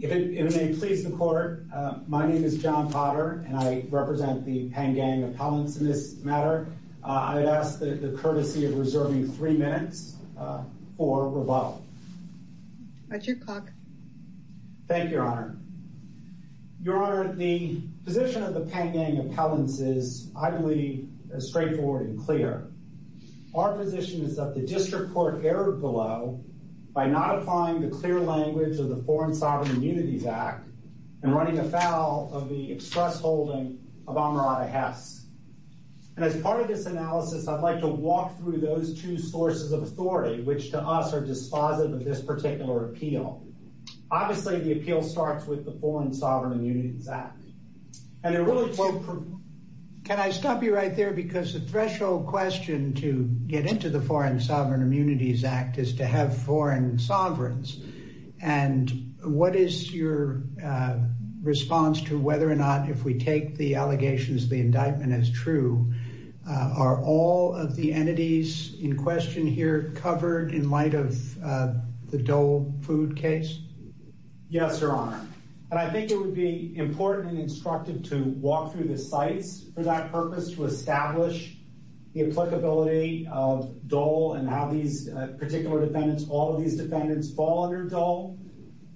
If it may please the Court, my name is John Potter, and I represent the Pangang Appellants in this matter. I'd ask the courtesy of reserving three minutes for rebuttal. At your clock. Thank you, Your Honor. Your Honor, the position of the Pangang Appellants is, I believe, straightforward and clear. Our position is that the District Court erred below by not applying the clear language of the Foreign Sovereign Immunities Act and running afoul of the express holding of Amarada Hess. And as part of this analysis, I'd like to walk through those two sources of authority, which to us are dispositive of this particular appeal. Obviously, the appeal starts with the Foreign Sovereign Immunities Act. And it really... Can I stop you right there? Because the threshold question to get into the Foreign Sovereign Immunities Act is to have foreign sovereigns. And what is your response to whether or not, if we take the allegations of the indictment as true, are all of the entities in question here covered in light of the Dole food case? Yes, Your Honor. And I think it would be important and instructive to walk through the sites for that purpose, to establish the applicability of Dole and how these particular defendants, all of these defendants, fall under Dole.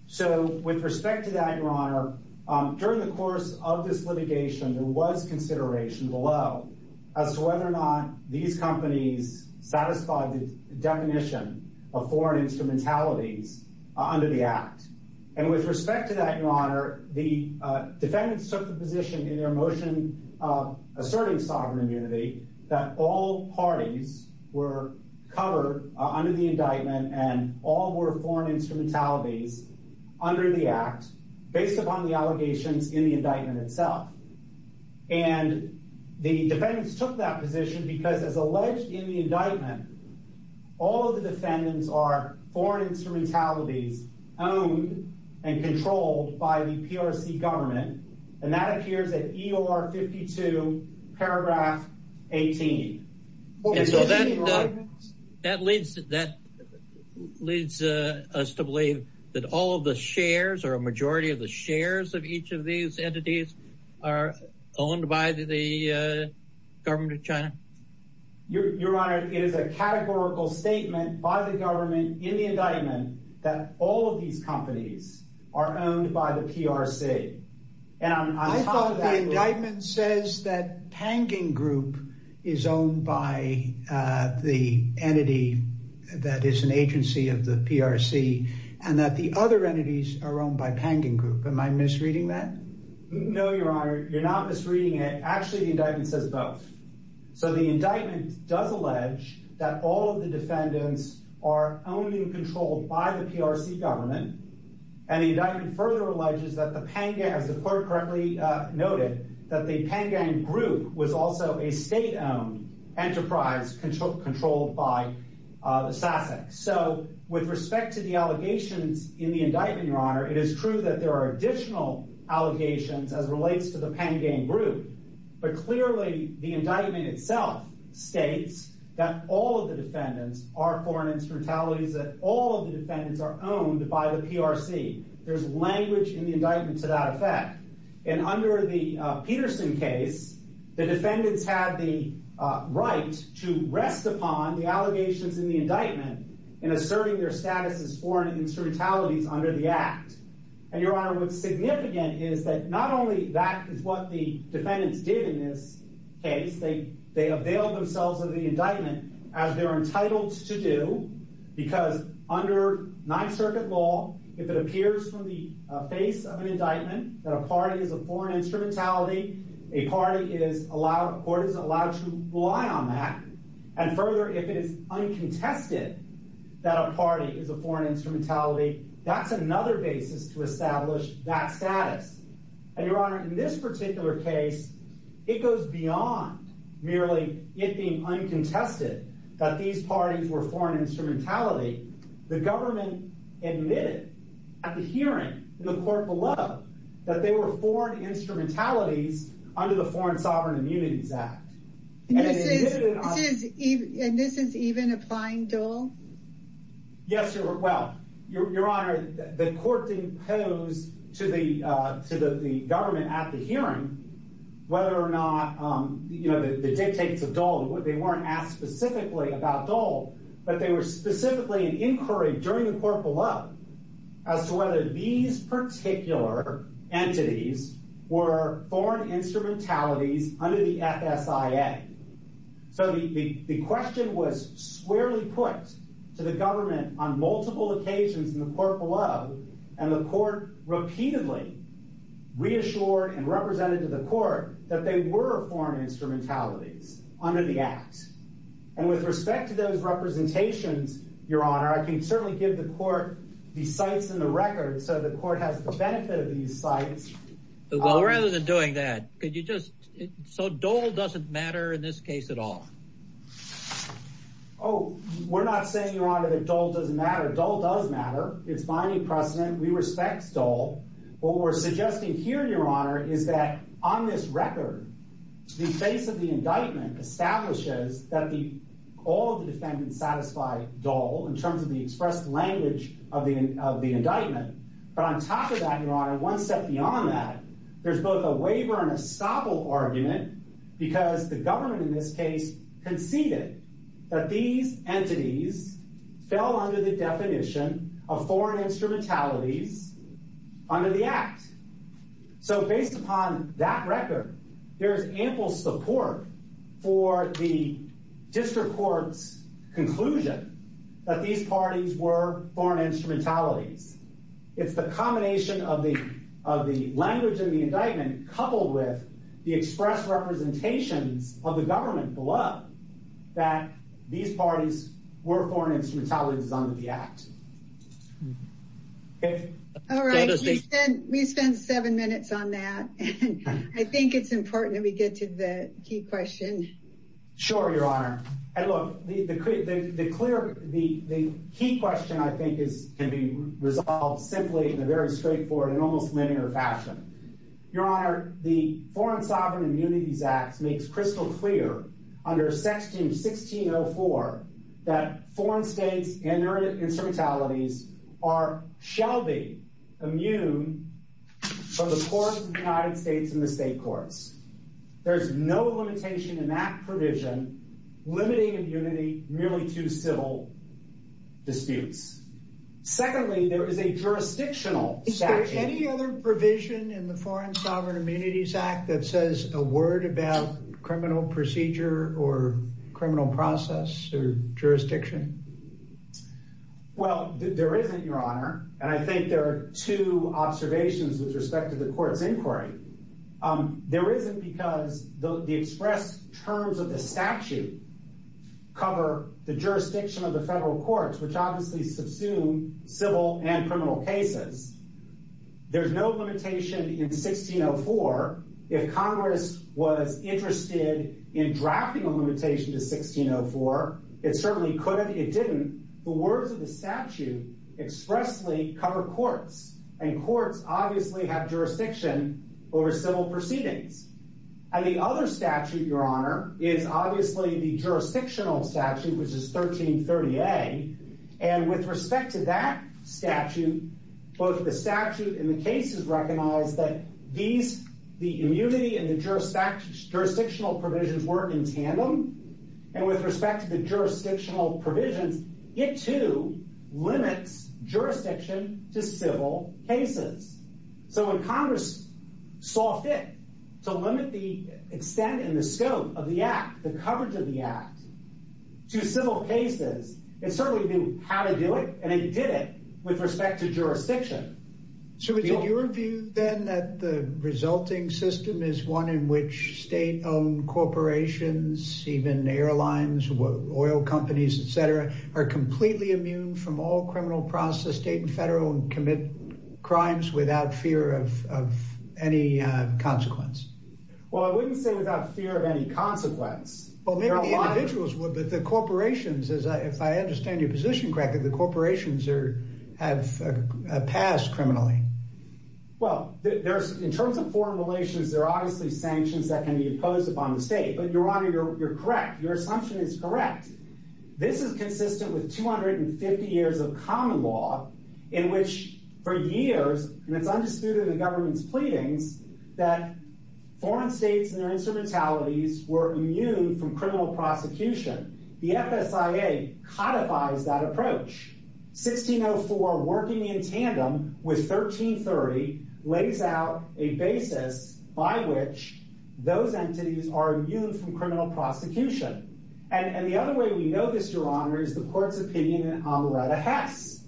So with respect to that, Your Honor, during the course of this litigation, there was consideration below as to whether or not these companies satisfied the definition of foreign instrumentalities under the act. And with respect to that, Your Honor, the defendants took the position in their motion asserting sovereign immunity that all parties were covered under the indictment and all were foreign instrumentalities under the act, based upon the allegations in the indictment itself. And the defendants took that position because, as alleged in the indictment, all of the defendants are foreign instrumentalities owned and controlled by the PRC government. And that appears at EOR 52, paragraph 18. And so that leads us to believe that all of the shares or a majority of the shares of each of these entities are owned by the government of China? Your Honor, it is a categorical statement by the government in the indictment that all of these companies are owned by the PRC. And I thought the indictment says that Panging Group is owned by the entity that is an agency of the PRC and that the other entities are owned by Panging Group. Am I misreading that? No, Your Honor. You're not misreading it. Actually, the indictment says both. So the indictment does allege that all of the defendants are owned and controlled by the PRC government. And the indictment further alleges that the Panging, as the clerk correctly noted, that the Panging Group was also a state-owned enterprise controlled by the SASAC. So with respect to the allegations in the indictment, Your Honor, it is true that there are additional allegations as relates to the Panging Group. But clearly, the indictment itself states that all of the defendants are foreign instrumentalities, that all of the defendants are owned by the PRC. There's language in the indictment to that effect. And under the Peterson case, the defendants had the right to rest upon the allegations in the indictment in asserting their status as foreign instrumentalities under the act. And Your Honor, what's significant is that not only that is what the defendants did in this case, they availed themselves of the indictment as they're entitled to do, because under Ninth Circuit law, if it appears from the face of an indictment that a party is a foreign instrumentality, a court is allowed to rely on that. And further, if it is uncontested that a party is a foreign instrumentality, that's another basis to establish that status. And Your Honor, in this particular case, it goes beyond merely it being uncontested that these parties were foreign instrumentality. The government admitted at the hearing in the court below that they were foreign instrumentalities under the Foreign Sovereign Immunities Act. And this is even applying Dole? Yes, Your Honor, well, Your Honor, the court imposed to the to the government at the hearing whether or not the dictates of Dole, they weren't asked specifically about Dole, but they were specifically in inquiry during the court below as to whether these particular entities were foreign instrumentalities under the FSIA. So the question was squarely put to the government on multiple occasions in the court below, and the court repeatedly reassured and represented to the court that they were foreign instrumentalities under the act. And with respect to those representations, Your Honor, I can certainly give the court the sites in the record. So the court has the benefit of these sites. Well, rather than doing that, could you just so Dole doesn't matter in this case at all? Oh, we're not saying, Your Honor, that Dole doesn't matter. Dole does matter. It's binding precedent. We respect Dole. What we're suggesting here, Your Honor, is that on this record, the face of the indictment establishes that all the defendants satisfy Dole in terms of the expressed language of the indictment. But on top of that, Your Honor, one step beyond that, there's both a waiver and a stopple argument because the government in this case conceded that these entities fell under the definition of foreign instrumentalities under the act. So based upon that record, there is ample support for the district court's conclusion that these parties were foreign instrumentalities. It's the combination of the of the language of the indictment, coupled with the express representations of the government below, that these parties were foreign instrumentalities under the act. All right. We spent seven minutes on that. I think it's important that we get to the key question. Sure, Your Honor, and look, the key question, I think, can be resolved simply in a very straightforward and almost linear fashion. Your Honor, the Foreign Sovereign Immunities Act makes crystal clear under section 1604 that foreign states and their instrumentalities are, shall be, immune from the courts of the United States and the state courts. There's no limitation in that provision limiting immunity merely to civil disputes. Secondly, there is a jurisdictional statute. Is there any other provision in the Foreign Sovereign Immunities Act that says a word about criminal procedure or criminal process or jurisdiction? Well, there isn't, Your Honor, and I think there are two observations with respect to the court's inquiry. There isn't, because the express terms of the statute cover the jurisdiction of the federal courts, which obviously subsume civil and criminal cases. There's no limitation in 1604. If Congress was interested in drafting a limitation to 1604, it certainly could have. It didn't. The words of the statute expressly cover courts. And courts obviously have jurisdiction over civil proceedings. And the other statute, Your Honor, is obviously the jurisdictional statute, which is 1330A. And with respect to that statute, both the statute and the cases recognize that the immunity and the jurisdictional provisions work in tandem. And with respect to the jurisdictional provisions, it, too, limits jurisdiction to civil cases. So when Congress saw fit to limit the extent and the scope of the act, the coverage of the act to civil cases, it certainly knew how to do it. And it did it with respect to jurisdiction. So is it your view, then, that the resulting system is one in which state-owned corporations, even airlines, oil companies, etc., are completely immune from all criminal process, state and federal, and commit crimes without fear of any consequence? Well, I wouldn't say without fear of any consequence. Well, maybe the individuals would, but the corporations, if I understand your position correctly, the corporations have passed criminally. Well, in terms of foreign relations, there are obviously sanctions that can be imposed upon the state. But, Your Honor, you're correct. Your assumption is correct. This is consistent with 250 years of common law in which, for years, and it's undisputed in the government's pleadings, that foreign states and their instrumentalities were immune from criminal prosecution. The FSIA codifies that approach. 1604, working in tandem with 1330, lays out a basis by which those entities are immune from criminal prosecution. And the other way we know this, Your Honor, is the court's opinion in Amarada Hess.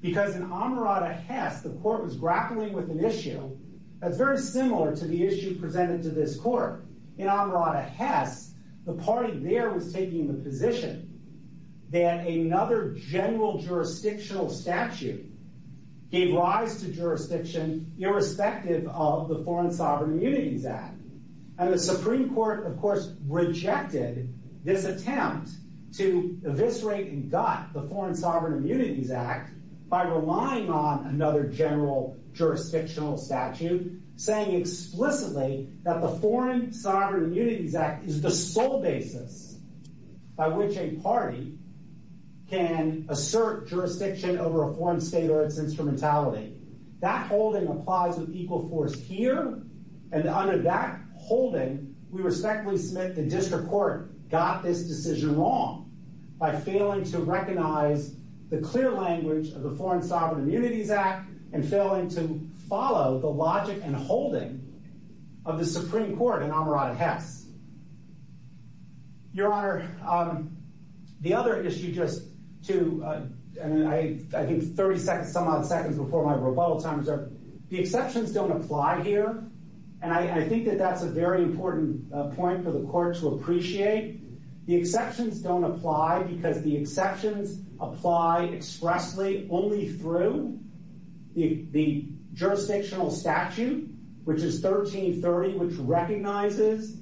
Because in Amarada Hess, the court was grappling with an issue that's very similar to the issue presented to this court. In Amarada Hess, the party there was taking the position that another general jurisdictional statute gave rise to jurisdiction irrespective of the Foreign Sovereign Immunities Act. And the Supreme Court, of course, rejected this attempt to eviscerate and gut the Foreign Sovereign Immunities Act by relying on another general jurisdictional statute, saying explicitly that the Foreign Sovereign Immunities Act is the sole basis by which a party can assert jurisdiction over a foreign state or its instrumentality. That holding applies with equal force here. And under that holding, we respectfully submit the district court got this decision wrong by failing to recognize the clear language of the Foreign Sovereign Immunities Act and failing to follow the logic and holding of the Supreme Court in Amarada Hess. Your Honor, the other issue just to, I think, 30-some-odd seconds before my rebuttal time is that the exceptions don't apply here. And I think that that's a very important point for the court to appreciate. The exceptions don't apply because the exceptions apply expressly only through the jurisdictional statute, which is 1330, which recognizes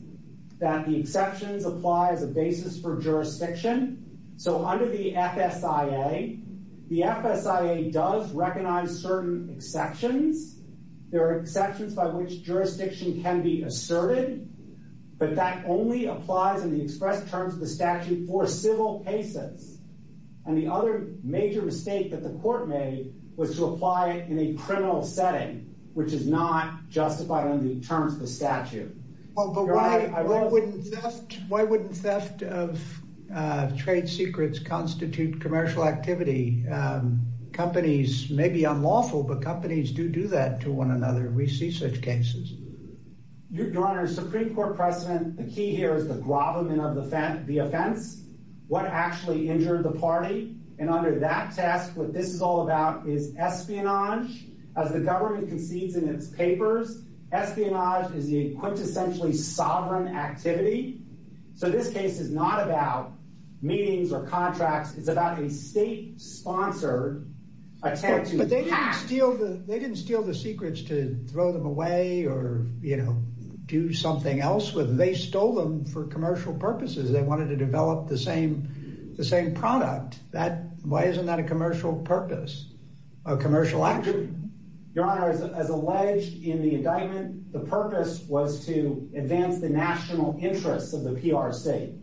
that the exceptions apply as a basis for jurisdiction. So under the FSIA, the FSIA does recognize certain exceptions. There are exceptions by which jurisdiction can be asserted, but that only applies in the express terms of the statute for civil cases. And the other major mistake that the court made was to apply it in a criminal setting, which is not justified under the terms of the statute. But why wouldn't theft of trade secrets constitute commercial activity? Companies may be unlawful, but companies do do that to one another. We see such cases. Your Honor, Supreme Court precedent, the key here is the gravamen of the offense, what actually injured the party. And under that test, what this is all about is espionage. As the government concedes in its papers, espionage is the quintessentially sovereign activity. So this case is not about meetings or contracts. It's about a state-sponsored attempt to hack. But they didn't steal the secrets to throw them away or, you know, do something else with them. They stole them for commercial purposes. They wanted to develop the same product. Why isn't that a commercial purpose, a commercial activity? Your Honor, as alleged in the indictment, the purpose was to advance the national interests of the PRC.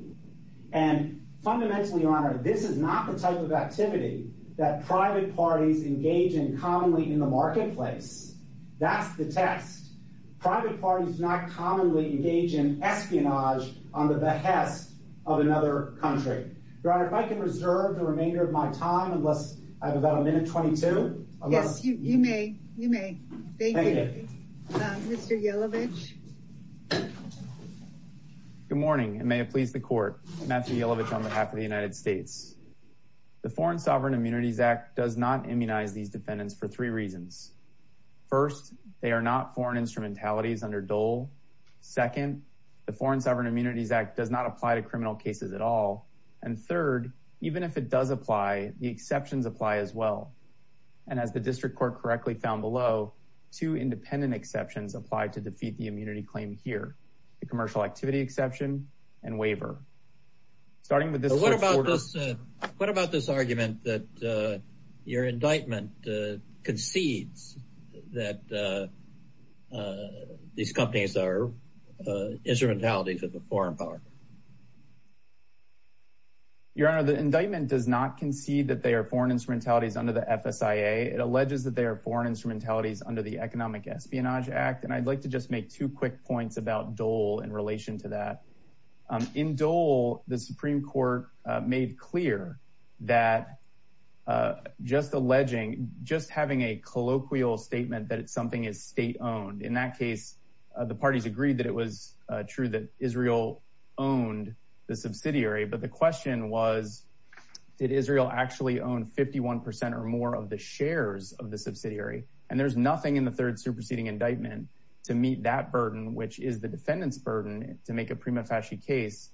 And fundamentally, Your Honor, this is not the type of activity that private parties engage in commonly in the marketplace. That's the test. Private parties do not commonly engage in espionage on the behest of another country. Your Honor, if I can reserve the remainder of my time, unless I have about a minute 22. Yes, you may. You may. Thank you, Mr. Yelovich. Good morning, and may it please the Court. Matthew Yelovich on behalf of the United States. The Foreign Sovereign Immunities Act does not immunize these defendants for three reasons. First, they are not foreign instrumentalities under Dole. Second, the Foreign Sovereign Immunities Act does not apply to criminal cases at all. And third, even if it does apply, the exceptions apply as well. And as the District Court correctly found below, two independent exceptions apply to defeat the immunity claim here. The commercial activity exception and waiver. Starting with this. So what about this? What about this argument that your indictment concedes that these companies are instrumentalities of a foreign power? Your Honor, the indictment does not concede that they are foreign instrumentalities under the FSIA. It alleges that they are foreign instrumentalities under the Economic Espionage Act. And I'd like to just make two quick points about Dole in relation to that. In Dole, the Supreme Court made clear that just alleging, just having a colloquial statement that something is state-owned. In that case, the parties agreed that it was true that Israel owned the subsidiary. But the question was, did Israel actually own 51% or more of the shares of the subsidiary? And there's nothing in the third superseding indictment to meet that burden, which is the defendant's burden to make a prima facie case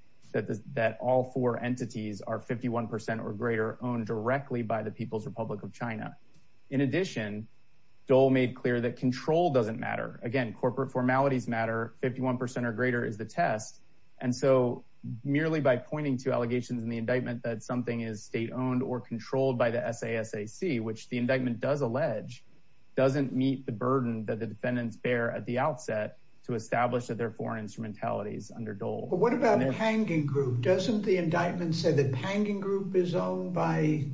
that all four entities are 51% or greater owned directly by the People's Republic of China. In addition, Dole made clear that control doesn't matter. Again, corporate formalities matter. 51% or greater is the test. And so merely by pointing to allegations in the indictment that something is state-owned or controlled by the SASAC, which the indictment does allege, doesn't meet the burden that the defendants bear at the outset to establish that they're foreign instrumentalities under Dole. But what about Pangan Group? Doesn't the indictment say that Pangan Group is owned by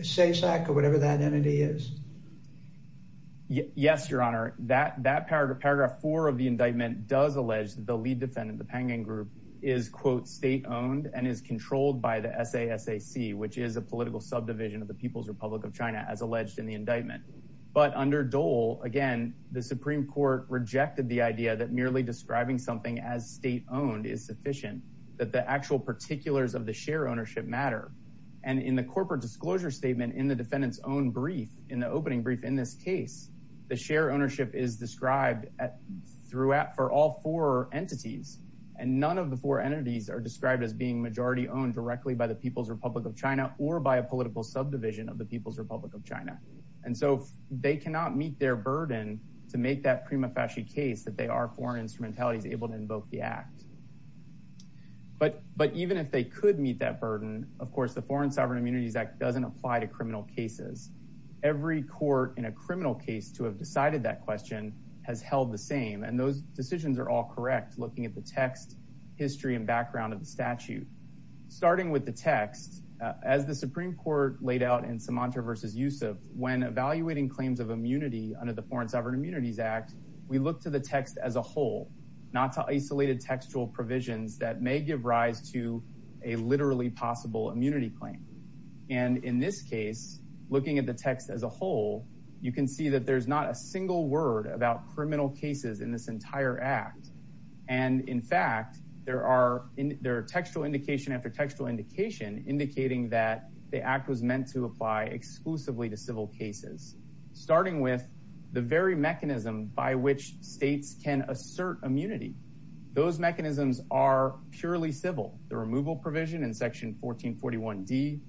SASAC or whatever that entity is? Yes, Your Honor. That paragraph four of the indictment does allege the lead defendant, the Pangan Group, is, quote, state-owned and is controlled by the SASAC, which is a political subdivision of the People's Republic of China, as alleged in the indictment. But under Dole, again, the Supreme Court rejected the idea that merely describing something as state-owned is sufficient, that the actual particulars of the share ownership matter. And in the corporate disclosure statement in the defendant's own brief, in the opening brief in this case, the share ownership is described for all four entities, and none of the four entities are described as being majority-owned directly by the People's Republic of China or by a political subdivision of the People's Republic of China. And so they cannot meet their burden to make that prima facie case that they are foreign instrumentalities able to invoke the act. But even if they could meet that burden, of course, the Foreign Sovereign Immunities Act doesn't apply to criminal cases. Every court in a criminal case to have decided that question has held the same, and those decisions are all correct looking at the text, history, and background of the statute. Starting with the text, as the Supreme Court laid out in Sumantra v. Yusuf, when evaluating claims of immunity under the Foreign Sovereign Immunities Act, we look to the text as a whole, not to isolated textual provisions that may give rise to a literally possible immunity claim. And in this case, looking at the text as a whole, you can see that there's not a single word about criminal cases in this entire act. And in fact, there are textual indication after textual indication indicating that the act was meant to apply exclusively to civil cases. Starting with the very mechanism by which states can assert immunity, those mechanisms are purely civil. The removal provision in section 1441D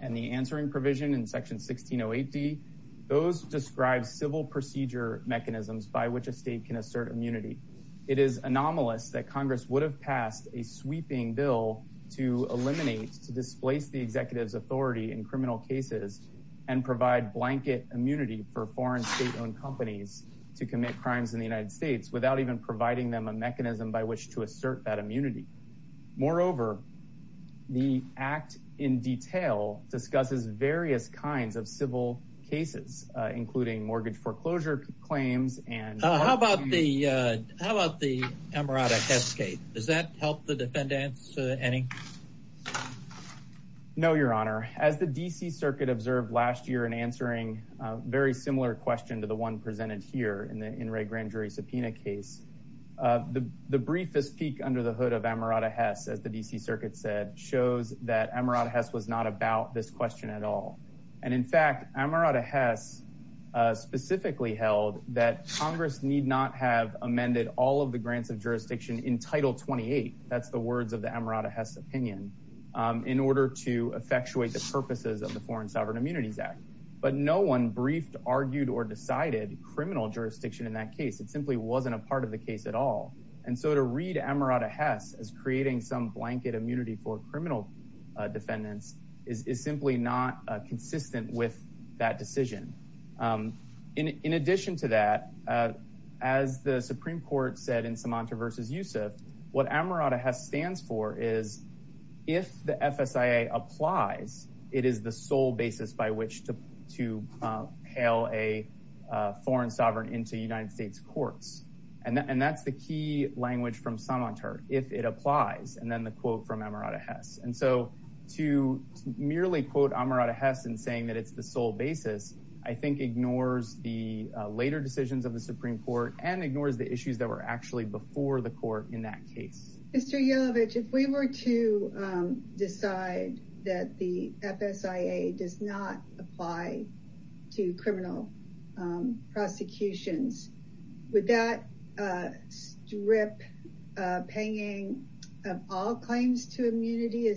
and the answering provision in section 1608D, those describe civil procedure mechanisms by which a state can assert immunity. It is anomalous that Congress would have passed a sweeping bill to eliminate, to displace the executive's authority in criminal cases and provide blanket immunity for foreign state-owned companies to commit crimes in the United States without even providing them a mechanism by which to assert that immunity. Moreover, the act in detail discusses various kinds of civil cases, including mortgage foreclosure claims and... How about the Emirati cascade? Does that help the defendants any? No, Your Honor. As the D.C. Circuit observed last year in answering a very similar question to the one presented here in the In re Grand Jury subpoena case, the briefest peek under the hood of Amarada Hess, as the D.C. Circuit said, shows that Amarada Hess was not about this question at all. And in fact, Amarada Hess specifically held that Congress need not have amended all of the grants of jurisdiction in Title 28. That's the words of the Amarada Hess opinion, in order to effectuate the purposes of the Foreign Sovereign Immunities Act. But no one briefed, argued, or decided criminal jurisdiction in that case. It simply wasn't a part of the case at all. And so to read Amarada Hess as creating some blanket immunity for criminal defendants is simply not consistent with that decision. In addition to that, as the Supreme Court said in Sumatra v. Yusuf, what Amarada Hess stands for is if the FSIA applies, it is the sole basis by which to hail a foreign sovereign into United States courts. And that's the key language from Sumatra, if it applies. And then the quote from Amarada Hess. And so to merely quote Amarada Hess in saying that it's the sole basis, I think ignores the later decisions of the Supreme Court and ignores the issues that were actually before the court in that case. Mr. Yelovich, if we were to decide that the FSIA does not apply to criminal prosecutions, would that strip panging of all claims to immunity?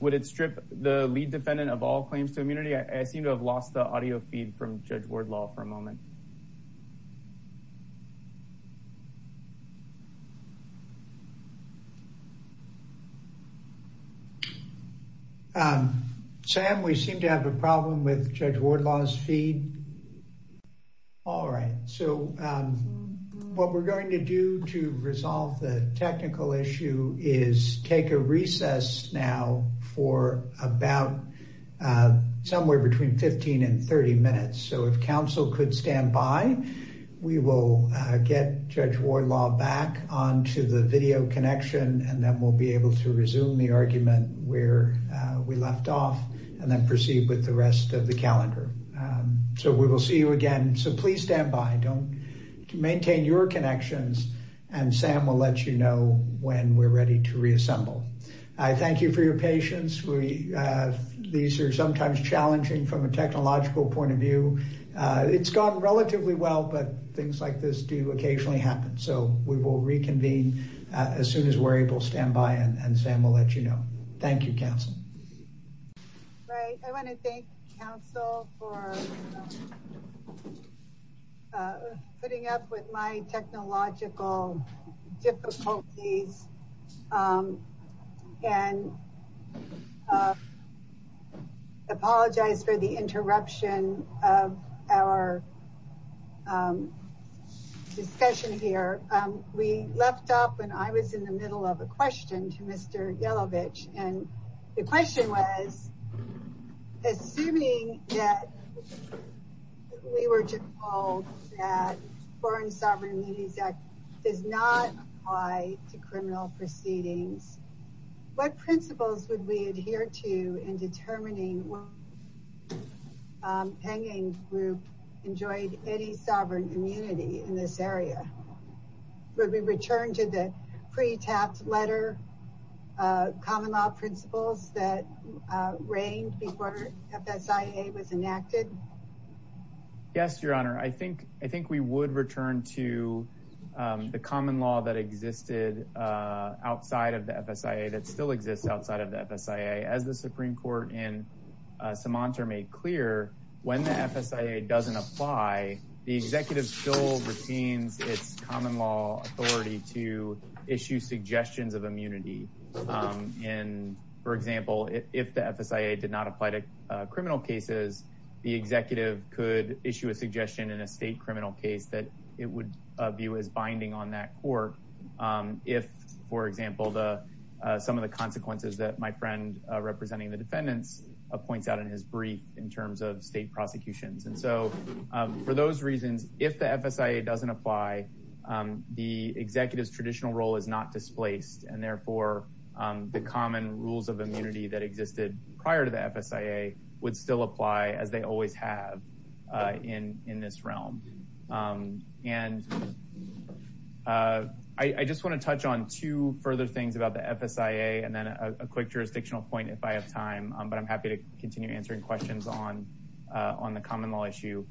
Would it strip the lead defendant of all claims to immunity? I seem to have lost the audio feed from Judge Wardlaw for a moment. Sam, we seem to have a problem with Judge Wardlaw's feed. All right. So what we're going to do to resolve the technical issue is take a recess now for about somewhere between 15 and 30 minutes. So if counsel could stand by, we will get Judge Wardlaw back onto the video connection, and then we'll be able to resume the argument where we left off and then proceed with the rest of the calendar. So we will see you again. So please stand by. Don't maintain your connections. And Sam will let you know when we're ready to reassemble. I thank you for your patience. We these are sometimes challenging from a technological point of view. It's gone relatively well, but things like this do occasionally happen. So we will reconvene as soon as we're able. Stand by and Sam will let you know. Thank you, counsel. Right. I want to thank counsel for putting up with my technological difficulties. I apologize for the interruption of our discussion here. We left off when I was in the middle of a question to Mr. Yelovich, and the question was, assuming that we were to hold that Foreign Sovereign Immunities Act does not apply to criminal proceedings. What principles would we adhere to in determining hanging group enjoyed any sovereign immunity in this area? Would we return to the pre-tapped letter common law principles that reigned before FSIA was enacted? Yes, your honor. I think we would return to the common law that existed outside of the FSIA, that still exists outside of the FSIA. As the Supreme Court in Sumatra made clear, when the FSIA doesn't apply, the executive still retains its common law authority to issue suggestions of immunity. And for example, if the FSIA did not apply to criminal cases, the executive could issue a suggestion in a state criminal case that it would view as binding on that court. If, for example, some of the consequences that my friend representing the defendants points out in his brief in terms of state prosecutions. And so for those reasons, if the FSIA doesn't apply, the executive's traditional role is not displaced. And therefore, the common rules of immunity that existed prior to the FSIA would still apply as they always have in this realm. And I just want to touch on two further things about the FSIA and then a quick jurisdictional point if I have time. But I'm happy to continue answering questions on the common law issue.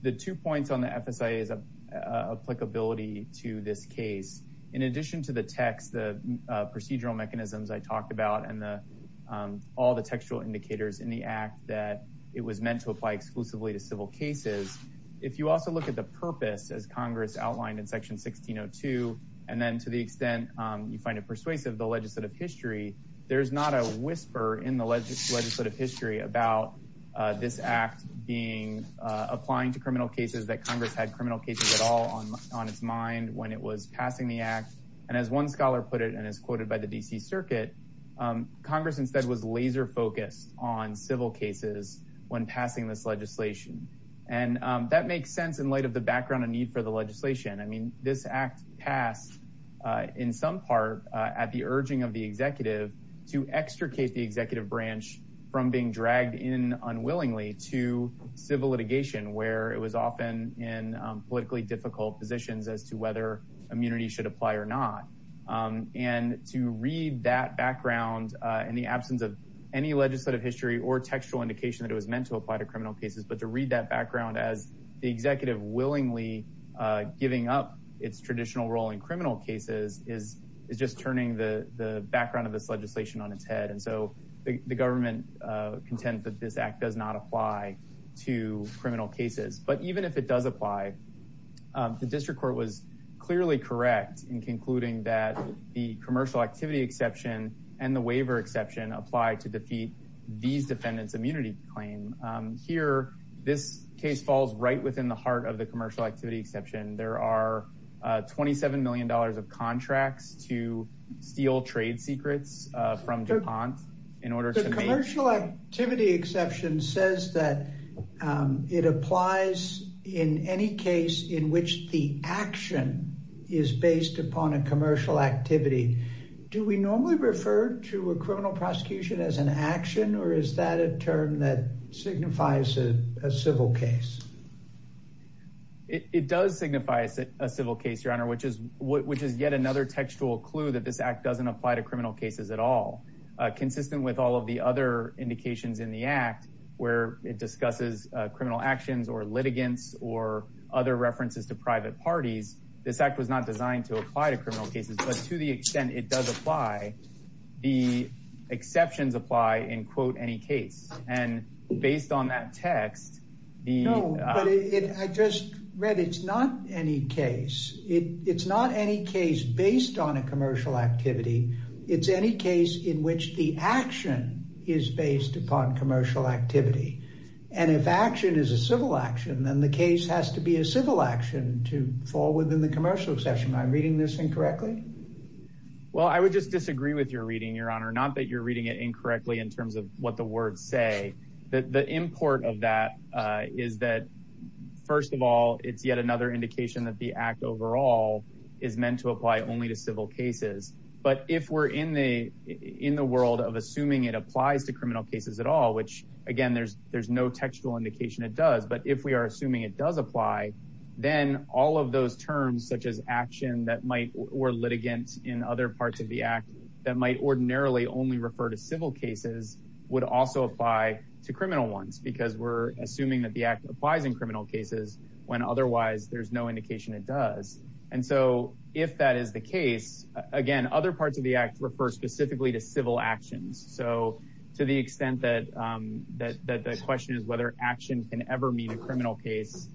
The two points on the FSIA's applicability to this case, in addition to the text, the procedural mechanisms I talked about, and all the textual indicators in the act that it was meant to apply exclusively to civil cases. If you also look at the purpose as Congress outlined in section 1602, and then to the extent you find it persuasive, the legislative history, there's not a whisper in the legislative history about this act being, applying to criminal cases that Congress had criminal cases at all on its mind when it was passing the act. And as one scholar put it, and it's quoted by the D.C. Circuit, Congress instead was laser focused on civil cases when passing this legislation. And that makes sense in light of the background of need for the legislation. This act passed in some part at the urging of the executive to extricate the executive branch from being dragged in unwillingly to civil litigation where it was often in politically difficult positions as to whether immunity should apply or not. And to read that background in the absence of any legislative history or textual indication that it was meant to apply to criminal cases, to read that background as the executive willingly giving up its traditional role in criminal cases is just turning the background of this legislation on its head. And so the government contends that this act does not apply to criminal cases. But even if it does apply, the district court was clearly correct in concluding that the commercial activity exception and the waiver exception apply to defeat these defendants' immunity claim. Here, this case falls right within the heart of the commercial activity exception. There are $27 million of contracts to steal trade secrets from DuPont in order to make— The commercial activity exception says that it applies in any case in which the action is based upon a commercial activity. Do we normally refer to a criminal prosecution as an action, or is that a term that signifies a civil case? It does signify a civil case, Your Honor, which is yet another textual clue that this act doesn't apply to criminal cases at all. Consistent with all of the other indications in the act where it discusses criminal actions or litigants or other references to private parties, this act was not designed to apply to criminal cases, but to the extent it does apply, the exceptions apply in, quote, any case. And based on that text, the— No, but I just read it's not any case. It's not any case based on a commercial activity. It's any case in which the action is based upon commercial activity. And if action is a civil action, then the case has to be a civil action to fall within the commercial exception. Am I reading this incorrectly? Well, I would just disagree with your reading, Your Honor, not that you're reading it incorrectly in terms of what the words say. The import of that is that, first of all, it's yet another indication that the act overall is meant to apply only to civil cases. But if we're in the world of assuming it applies to criminal cases at all, which, again, there's no textual indication it does, but if we are assuming it does apply, then all of those terms, such as action that might— or litigants in other parts of the act that might ordinarily only refer to civil cases would also apply to criminal ones because we're assuming that the act applies in criminal cases when otherwise there's no indication it does. And so if that is the case, again, other parts of the act refer specifically to civil actions. So to the extent that the question is whether action can ever mean a criminal case,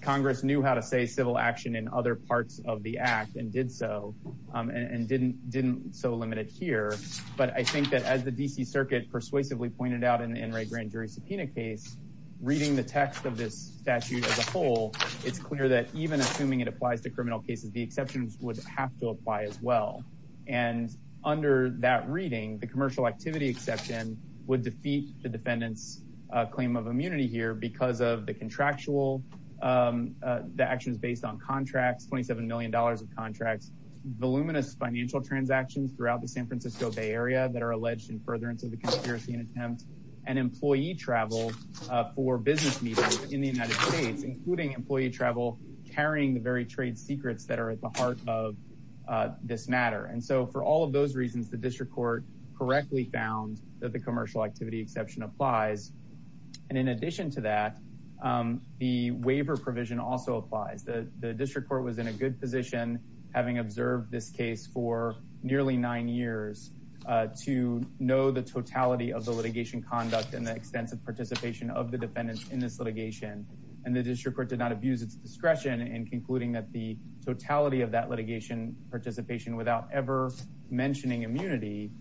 Congress knew how to say civil action in other parts of the act and did so and didn't so limit it here. But I think that as the D.C. Circuit persuasively pointed out in the NRA grand jury subpoena case, reading the text of this statute as a whole, it's clear that even assuming it applies to criminal cases, the exceptions would have to apply as well. And under that reading, the commercial activity exception would defeat the defendant's claim of immunity here because of the contractual the actions based on contracts, $27 million of contracts, voluminous financial transactions throughout the San Francisco Bay Area that are alleged in furtherance of the conspiracy and attempt, and employee travel for business meetings in the United States, including employee travel carrying the very trade secrets that are at the heart of this matter. And so for all of those reasons, the district court correctly found that the commercial activity exception applies. And in addition to that, the waiver provision also applies. The district court was in a good position, having observed this case for nearly nine years, to know the totality of the litigation conduct and the extensive participation of the defendants in this litigation. And the district court did not abuse its discretion in concluding that the totality of that litigation participation without ever mentioning immunity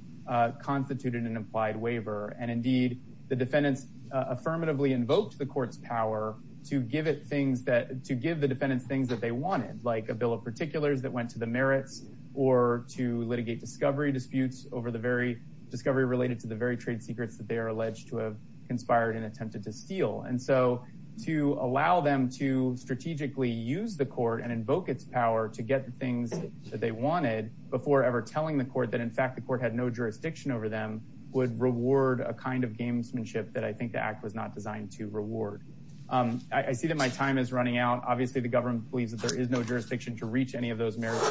constituted an applied waiver. And indeed, the defendants affirmatively invoked the court's power to give the defendants things that they wanted, like a bill of particulars that went to the merits, or to litigate discovery disputes over the very discovery related to the very trade secrets that they are alleged to have conspired and attempted to steal. And so to allow them to strategically use the court and invoke its power to get the things that they wanted before ever telling the court that, in fact, the court had no jurisdiction over them would reward a kind of gamesmanship that I think the act was not designed to reward. I see that my time is running out. Obviously, the government believes that there is no jurisdiction to reach any of those merits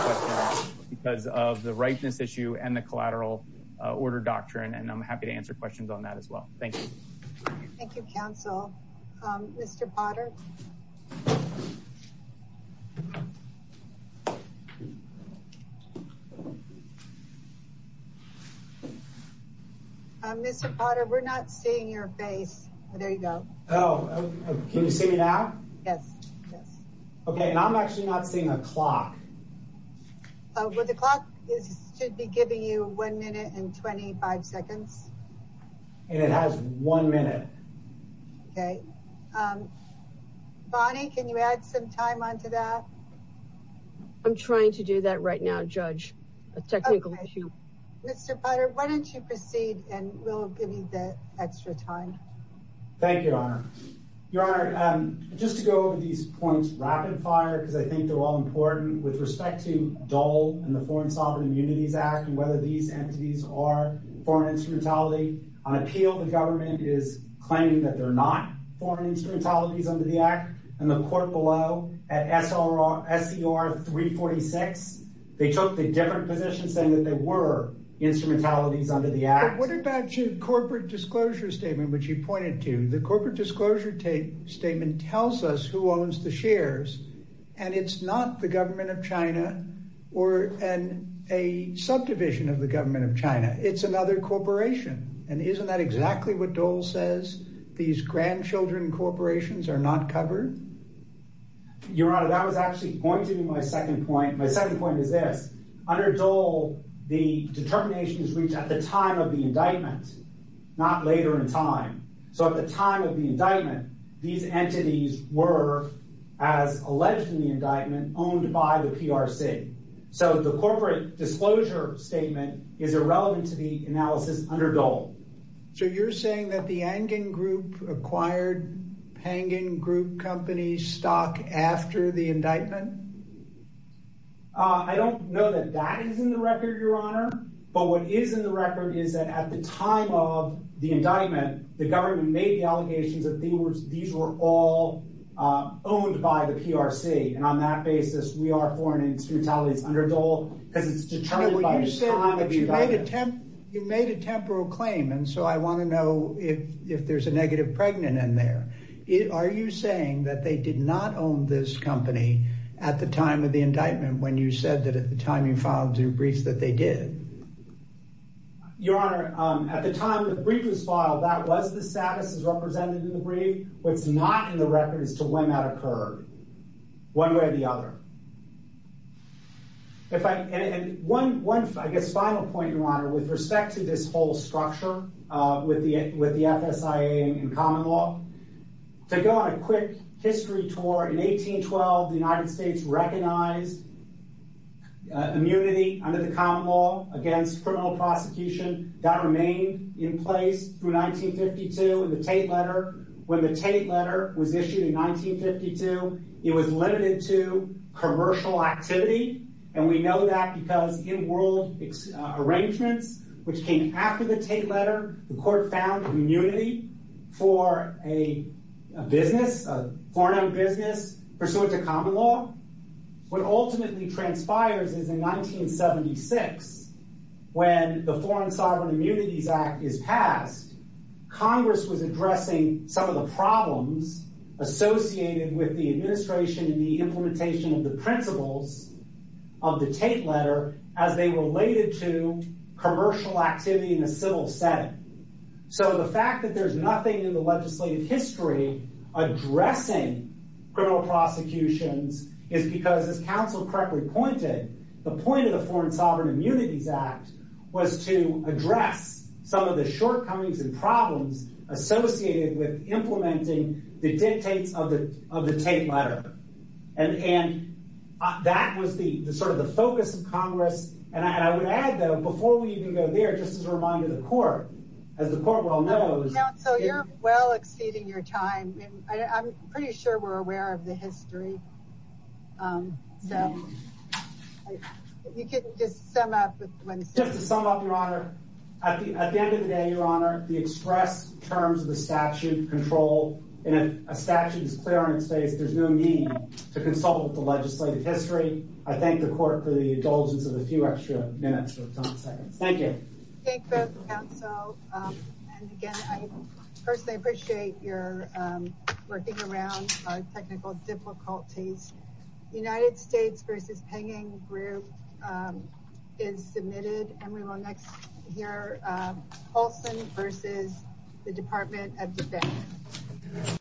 because of the ripeness issue and the collateral order doctrine. And I'm happy to answer questions on that as well. Thank you. Thank you, counsel. Mr. Potter. Mr. Potter, we're not seeing your face. There you go. Oh, can you see me now? Yes. Yes. Okay. And I'm actually not seeing a clock. Oh, well, the clock is should be giving you one minute and 25 seconds. And it has one minute. Okay. Bonnie, can you add some time onto that? I'm trying to do that right now, Judge. A technical issue. Mr. Potter, why don't you proceed? And we'll give you that extra time. Thank you, Your Honor. Your Honor, just to go over these points rapid fire, because I think they're all important with respect to Dole and the Foreign Sovereign Immunities Act and whether these entities are foreign instrumentality on appeal. The government is claiming that they're not foreign instrumentalities under the act. And the court below at SCR 346. They took the different positions saying that there were instrumentalities under the act. What about your corporate disclosure statement, which you pointed to? The corporate disclosure statement tells us who owns the shares. And it's not the government of China or a subdivision of the government of China. It's another corporation. And isn't that exactly what Dole says? These grandchildren corporations are not covered? Your Honor, that was actually pointing to my second point. My second point is this. Under Dole, the determination is reached at the time of the indictment, not later in time. So at the time of the indictment, these entities were, as alleged in the indictment, owned by the PRC. So the corporate disclosure statement is irrelevant to the analysis under Dole. So you're saying that the Angan Group acquired Pangan Group Company stock after the indictment? I don't know that that is in the record, Your Honor. But what is in the record is that at the time of the indictment, the government made the allegations that these were all owned by the PRC. And on that basis, we are foreign instrumentalities under Dole. Because it's determined by the time of the indictment. You made a temporal claim. And so I want to know if there's a negative pregnant in there. Are you saying that they did not own this company at the time of the indictment when you said that at the time you filed your briefs that they did? Your Honor, at the time the brief was filed, that was the status as represented in the brief. What's not in the record is to when that occurred. One way or the other. One final point, Your Honor, with respect to this whole structure with the FSIA and to go on a quick history tour. In 1812, the United States recognized immunity under the common law against criminal prosecution that remained in place through 1952 in the Tate letter. When the Tate letter was issued in 1952, it was limited to commercial activity. And we know that because in world arrangements, which came after the Tate letter, the court found immunity for a business, a foreign owned business, pursuant to common law. What ultimately transpires is in 1976, when the Foreign Sovereign Immunities Act is passed, Congress was addressing some of the problems associated with the administration and the implementation of the principles of the Tate letter as they related to commercial activity in a civil setting. So the fact that there's nothing in the legislative history addressing criminal prosecutions is because, as counsel correctly pointed, the point of the Foreign Sovereign Immunities Act was to address some of the shortcomings and problems associated with implementing the dictates of the Tate letter. And that was sort of the focus of Congress. And I would add, though, before we even go there, just as a reminder to the court, as the court well knows... Counsel, you're well exceeding your time. I'm pretty sure we're aware of the history. You can just sum up. Just to sum up, Your Honor, at the end of the day, Your Honor, the express terms of the statute control in a statute's clearance phase, there's no need to consult with the legislative history. I thank the court for the indulgence of a few extra minutes or seconds. Thank you. Thank you both, counsel. And again, I personally appreciate your working around our technical difficulties. United States v. Penning Group is submitted. And we will next hear Olson v. the Department of Defense.